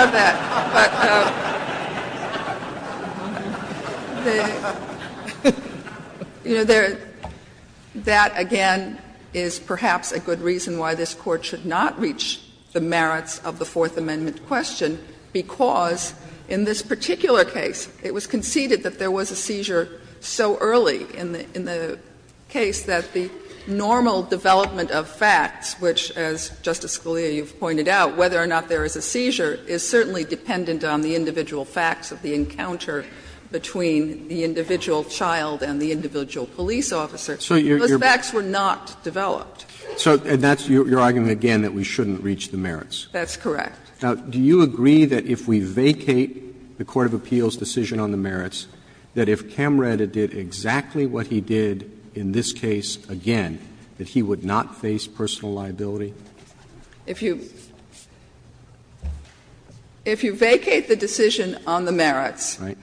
of that. But, you know, that again is perhaps a good reason why this Court should not reach the merits of the Fourth Amendment question, because in this particular case it was in the case that the normal development of facts, which, as Justice Scalia, you've pointed out, whether or not there is a seizure is certainly dependent on the individual facts of the encounter between the individual child and the individual police officer. Those facts were not developed. Roberts. So that's your argument again that we shouldn't reach the merits? That's correct. Now, do you agree that if we vacate the court of appeals' decision on the merits, that if Camreda did exactly what he did in this case again, that he would not face personal liability? If you vacate the decision on the merits, then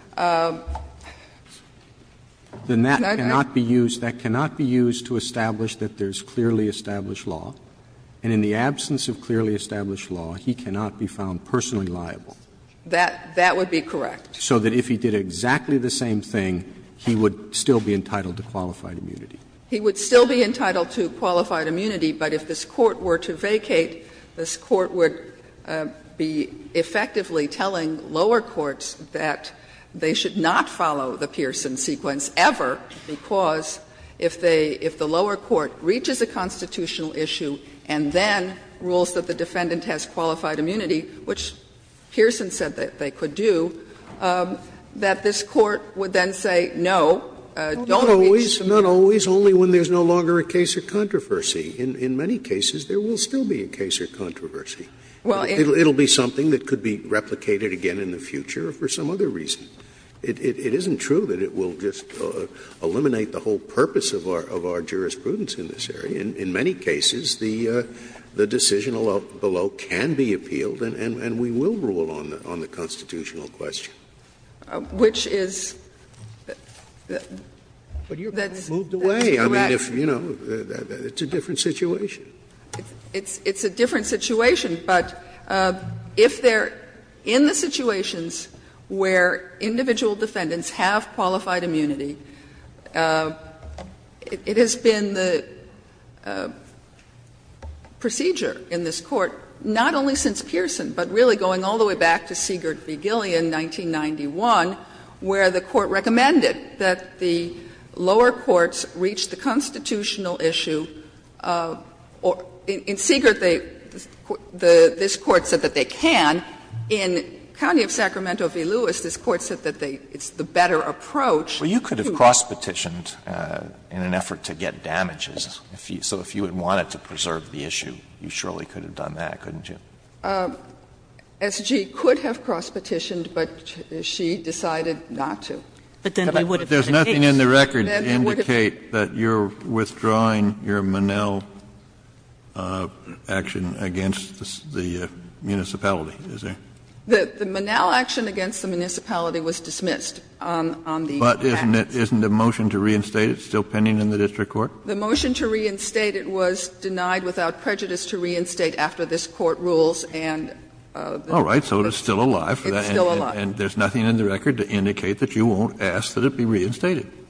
that cannot be used to establish that there is clearly established law, and in the absence of clearly established law, he cannot be found personally liable. That would be correct. So that if he did exactly the same thing, he would still be entitled to qualified immunity. He would still be entitled to qualified immunity, but if this Court were to vacate, this Court would be effectively telling lower courts that they should not follow the Pearson sequence ever, because if they — if the lower court reaches a constitutional issue and then rules that the defendant has qualified immunity, which Pearson said that they could do, that this Court would then say, no, don't reach the merits. Scalia Not always. Not always. Only when there is no longer a case of controversy. In many cases, there will still be a case of controversy. It will be something that could be replicated again in the future for some other reason. It isn't true that it will just eliminate the whole purpose of our jurisprudence in this area. In many cases, the decision below can be appealed, and we will rule on that. But that's a different argument on the constitutional question. Parsons Which is that's correct. Scalia But you're moved away. I mean, if, you know, it's a different situation. Parsons It's a different situation, but if they're in the situations where individual defendants have qualified immunity, it has been the procedure in this Court, not only since Pearson, but really going all the way back to Siegert v. Gilly in 1991, where the Court recommended that the lower courts reach the constitutional In Siegert, they – this Court said that they can. In County of Sacramento v. Lewis, this Court said that they – it's the better approach. Alito Well, you could have cross-petitioned in an effort to get damages. So if you had wanted to preserve the issue, you surely could have done that, couldn't you? Parsons S.G. could have cross-petitioned, but she decided not to. Kennedy But then we would have had a case. Kennedy But there's nothing in the record to indicate that you're withdrawing your Monell action against the municipality, is there? Parsons The Monell action against the municipality was dismissed on the fact that it was denied without prejudice to reinstate after this Court ruled that it was denied without prejudice to reinstate. Kennedy All right. So it's still alive. Parsons It's still alive. Kennedy And there's nothing in the record to indicate that you won't ask that it be reinstated. Parsons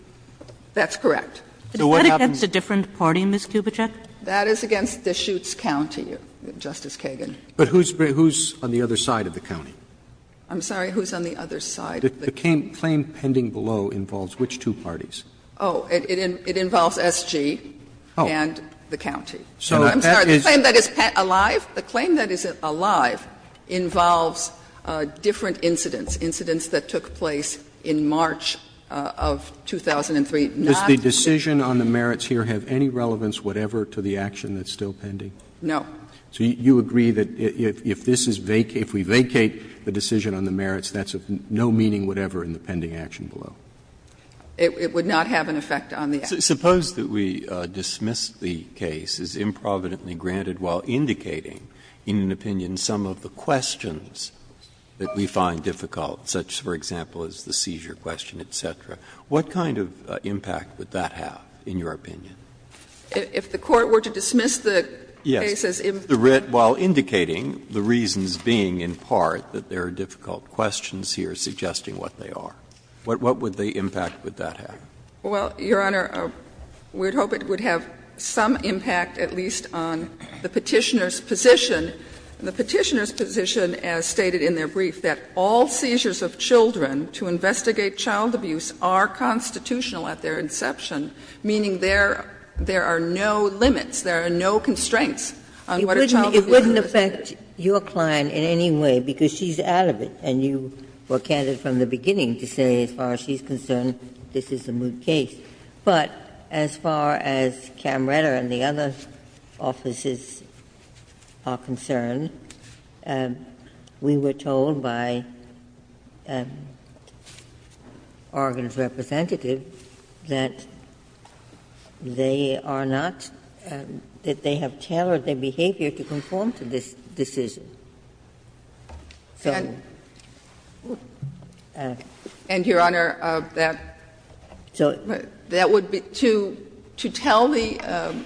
That's correct. Kagan So what happens to different parties, Ms. Kubitschek? Parsons That is against Deschutes County, Justice Kagan. Roberts But who's on the other side of the county? Parsons I'm sorry? Who's on the other side? Roberts The claim pending below involves which two parties? Parsons Oh, it involves S.G. and the county. Roberts So that is the claim that is alive? Parsons The claim that is alive involves different incidents, incidents that took place in March of 2003, not the case that is alive. Roberts Does the decision on the merits here have any relevance whatever to the action that's still pending? Parsons No. Roberts So you agree that if this is vacated, if we vacate the decision on the merits, that's of no meaning whatever in the pending action below? Parsons It would not have an effect on the action. Breyer Suppose that we dismiss the case as improvidently granted while indicating in an opinion some of the questions that we find difficult, such, for example, as the seizure question, et cetera. What kind of impact would that have in your opinion? Parsons If the Court were to dismiss the case as improvidently granted? Breyer Yes, while indicating the reasons being, in part, that there are difficult questions here suggesting what they are. What would the impact would that have? Parsons Well, Your Honor, we would hope it would have some impact at least on the Petitioner's position. The Petitioner's position, as stated in their brief, that all seizures of children to investigate child abuse are constitutional at their inception, meaning there are no limits, there are no constraints on what a child would do. Ginsburg It wouldn't affect your client in any way because she's out of it, and you were candid from the beginning to say, as far as she's concerned, this is a moot case. But as far as Camretta and the other offices are concerned, we were told by Oregon's representative that they are not — that they have tailored their behavior to conform to this decision. So we would hope it would have some impact at least on the Petitioner's Parsons And, Your Honor, that would be — to tell the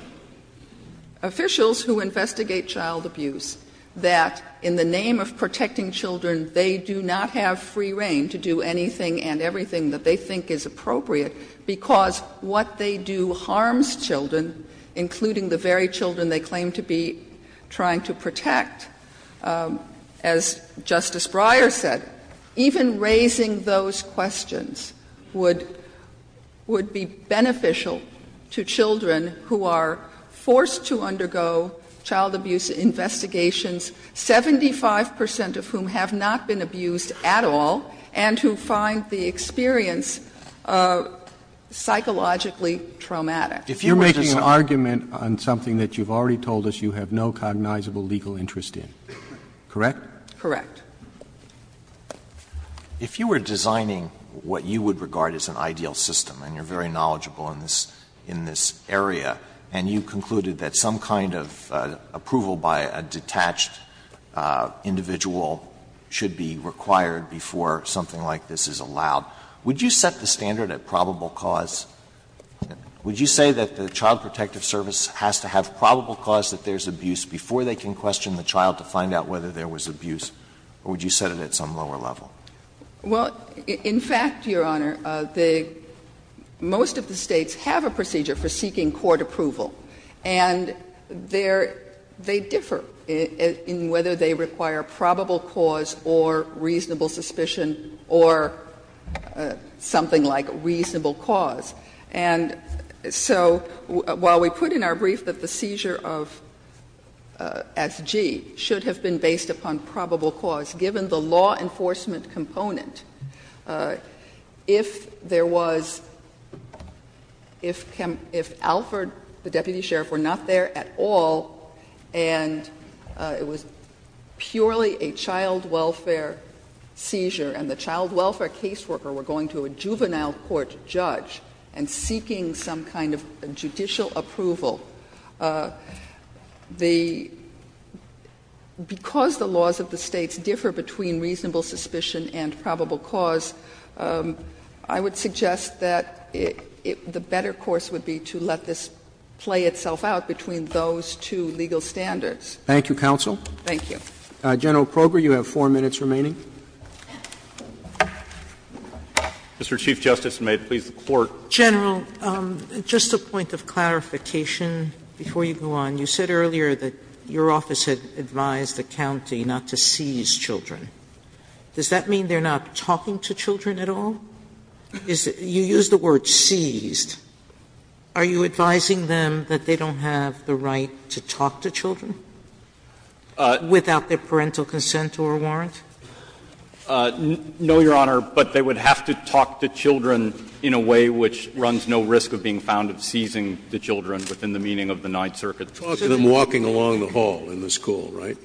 officials who investigate child abuse that in the name of protecting children, they do not have free reign to do anything and everything that they think is appropriate, because what they do harms children, including the very children they claim to be trying to protect. As Justice Breyer said, even raising those questions would be beneficial to children who are forced to undergo child abuse investigations, 75 percent of whom have not been abused at all, and who find the experience psychologically traumatic. If you were just making an argument on something that you've already told us you have no cognizable legal interest in, correct? Correct. If you were designing what you would regard as an ideal system, and you're very knowledgeable in this area, and you concluded that some kind of approval by a detached individual should be required before something like this is allowed, would you set the standard at probable cause? Would you say that the Child Protective Service has to have probable cause that there's abuse before they can question the child to find out whether there was abuse, or would you set it at some lower level? Well, in fact, Your Honor, the — most of the States have a procedure for seeking court approval, and they're — they differ in whether they require probable cause or reasonable suspicion or something like reasonable cause. And so while we put in our brief that the seizure of S.G. should have been based upon probable cause, given the law enforcement component, if there was — if Alford, the deputy sheriff, were not there at all, and it was purely a child welfare seizure, and the child welfare caseworker were going to a juvenile court judge and seeking some kind of judicial approval, the — because the laws of the States differ between reasonable suspicion and probable cause, I would suggest that it — the better course would be to let this play itself out between those two legal standards. Thank you, counsel. Thank you. General Kroger, you have 4 minutes remaining. Mr. Chief Justice, and may it please the Court. General, just a point of clarification before you go on. You said earlier that your office had advised the county not to seize children. Does that mean they're not talking to children at all? You used the word seized. Are you advising them that they don't have the right to talk to children without their parental consent or warrant? No, Your Honor, but they would have to talk to children in a way which runs no risk of being found of seizing the children within the meaning of the Ninth Circuit. Talk to them walking along the hall in the school, right?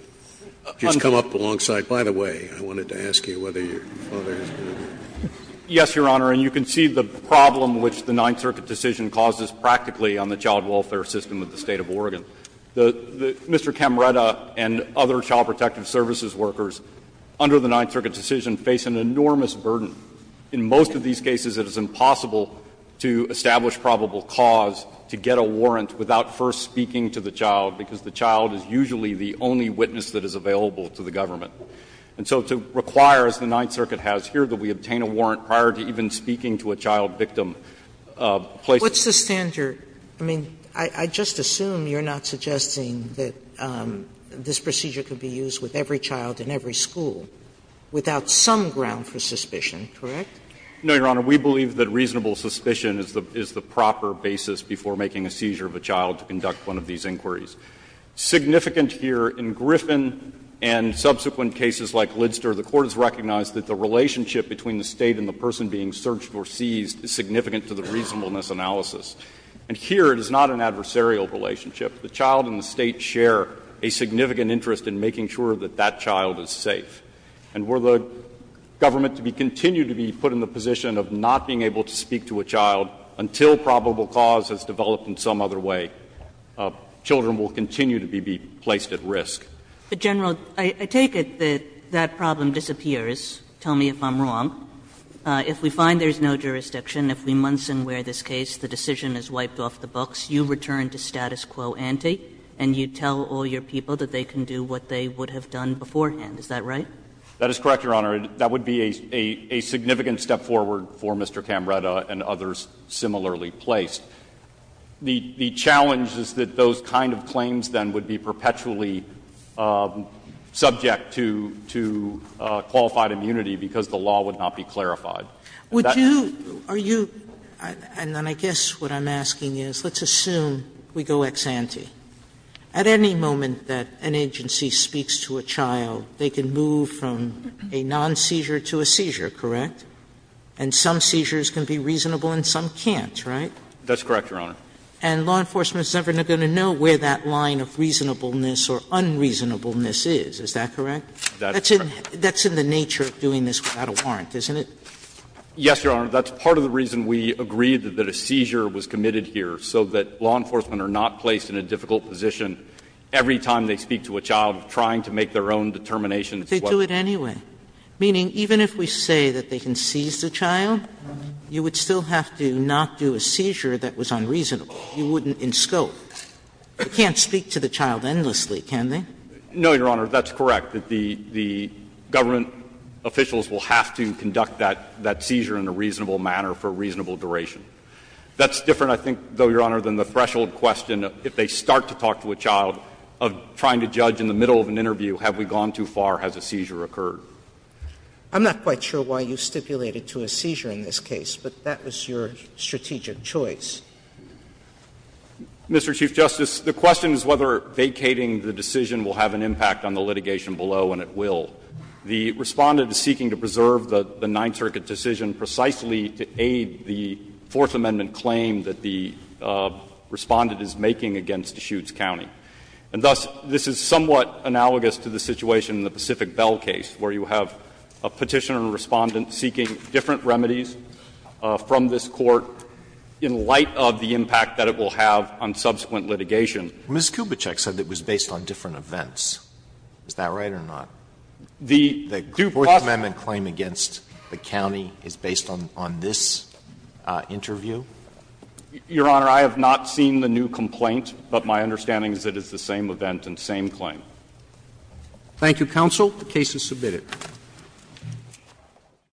Just come up alongside. By the way, I wanted to ask you whether your father is going to do that. Yes, Your Honor, and you can see the problem which the Ninth Circuit decision causes practically on the child welfare system of the State of Oregon. Mr. Camretta and other child protective services workers under the Ninth Circuit decision face an enormous burden. In most of these cases, it is impossible to establish probable cause to get a warrant without first speaking to the child, because the child is usually the only witness that is available to the government. And so to require, as the Ninth Circuit has here, that we obtain a warrant prior to even speaking to a child victim places the standard. Sotomayor, I mean, I just assume you're not suggesting that this procedure could be used with every child in every school without some ground for suspicion, correct? No, Your Honor. We believe that reasonable suspicion is the proper basis before making a seizure of a child to conduct one of these inquiries. Significant here in Griffin and subsequent cases like Lidster, the Court has recognized that the relationship between the State and the person being searched or seized is significant to the reasonableness analysis. And here, it is not an adversarial relationship. The child and the State share a significant interest in making sure that that child is safe. And were the government to continue to be put in the position of not being able to speak to a child until probable cause has developed in some other way, children will continue to be placed at risk. But, General, I take it that that problem disappears. Tell me if I'm wrong. If we find there's no jurisdiction, if we months and wear this case, the decision is wiped off the books, you return to status quo ante, and you tell all your people that they can do what they would have done beforehand, is that right? That is correct, Your Honor. That would be a significant step forward for Mr. Camretta and others similarly placed. The challenge is that those kind of claims, then, would be perpetually subject to qualified immunity because the law would not be clarified. Would you or you – and then I guess what I'm asking is, let's assume we go ex ante. At any moment that an agency speaks to a child, they can move from a non-seizure to a seizure, correct? And some seizures can be reasonable and some can't, right? That's correct, Your Honor. And law enforcement is never going to know where that line of reasonableness or unreasonableness is. Is that correct? That's in the nature of doing this without a warrant, isn't it? Yes, Your Honor. That's part of the reason we agreed that a seizure was committed here, so that law enforcement are not placed in a difficult position every time they speak to a child trying to make their own determination. They do it anyway. Meaning, even if we say that they can seize the child, you would still have to not do a seizure that was unreasonable. You wouldn't in scope. They can't speak to the child endlessly, can they? No, Your Honor, that's correct. The government officials will have to conduct that seizure in a reasonable manner for a reasonable duration. That's different, I think, though, Your Honor, than the threshold question, if they start to talk to a child, of trying to judge in the middle of an interview, have we gone too far, has a seizure occurred? I'm not quite sure why you stipulated to a seizure in this case, but that was your strategic choice. Mr. Chief Justice, the question is whether vacating the decision will have an impact on the litigation below, and it will. The Respondent is seeking to preserve the Ninth Circuit decision precisely to aid the Fourth Amendment claim that the Respondent is making against Deschutes County. And thus, this is somewhat analogous to the situation in the Pacific Bell case, where you have a Petitioner and Respondent seeking different remedies from this Court in light of the impact that it will have on subsequent litigation. Mr. Chief Justice, the question is whether vacating the decision will have an impact on the litigation below, and it will. And thus, this is somewhat analogous to the situation in the Pacific Bell case, where you have a Petitioner and Respondent seeking different remedies from this Court in light of the impact that it will have on subsequent litigation. Roberts. Mr. Chief Justice, the question is whether vacating the decision will have an impact on the litigation below, and it will. where you have a Petitioner and Respondent seeking different remedies from this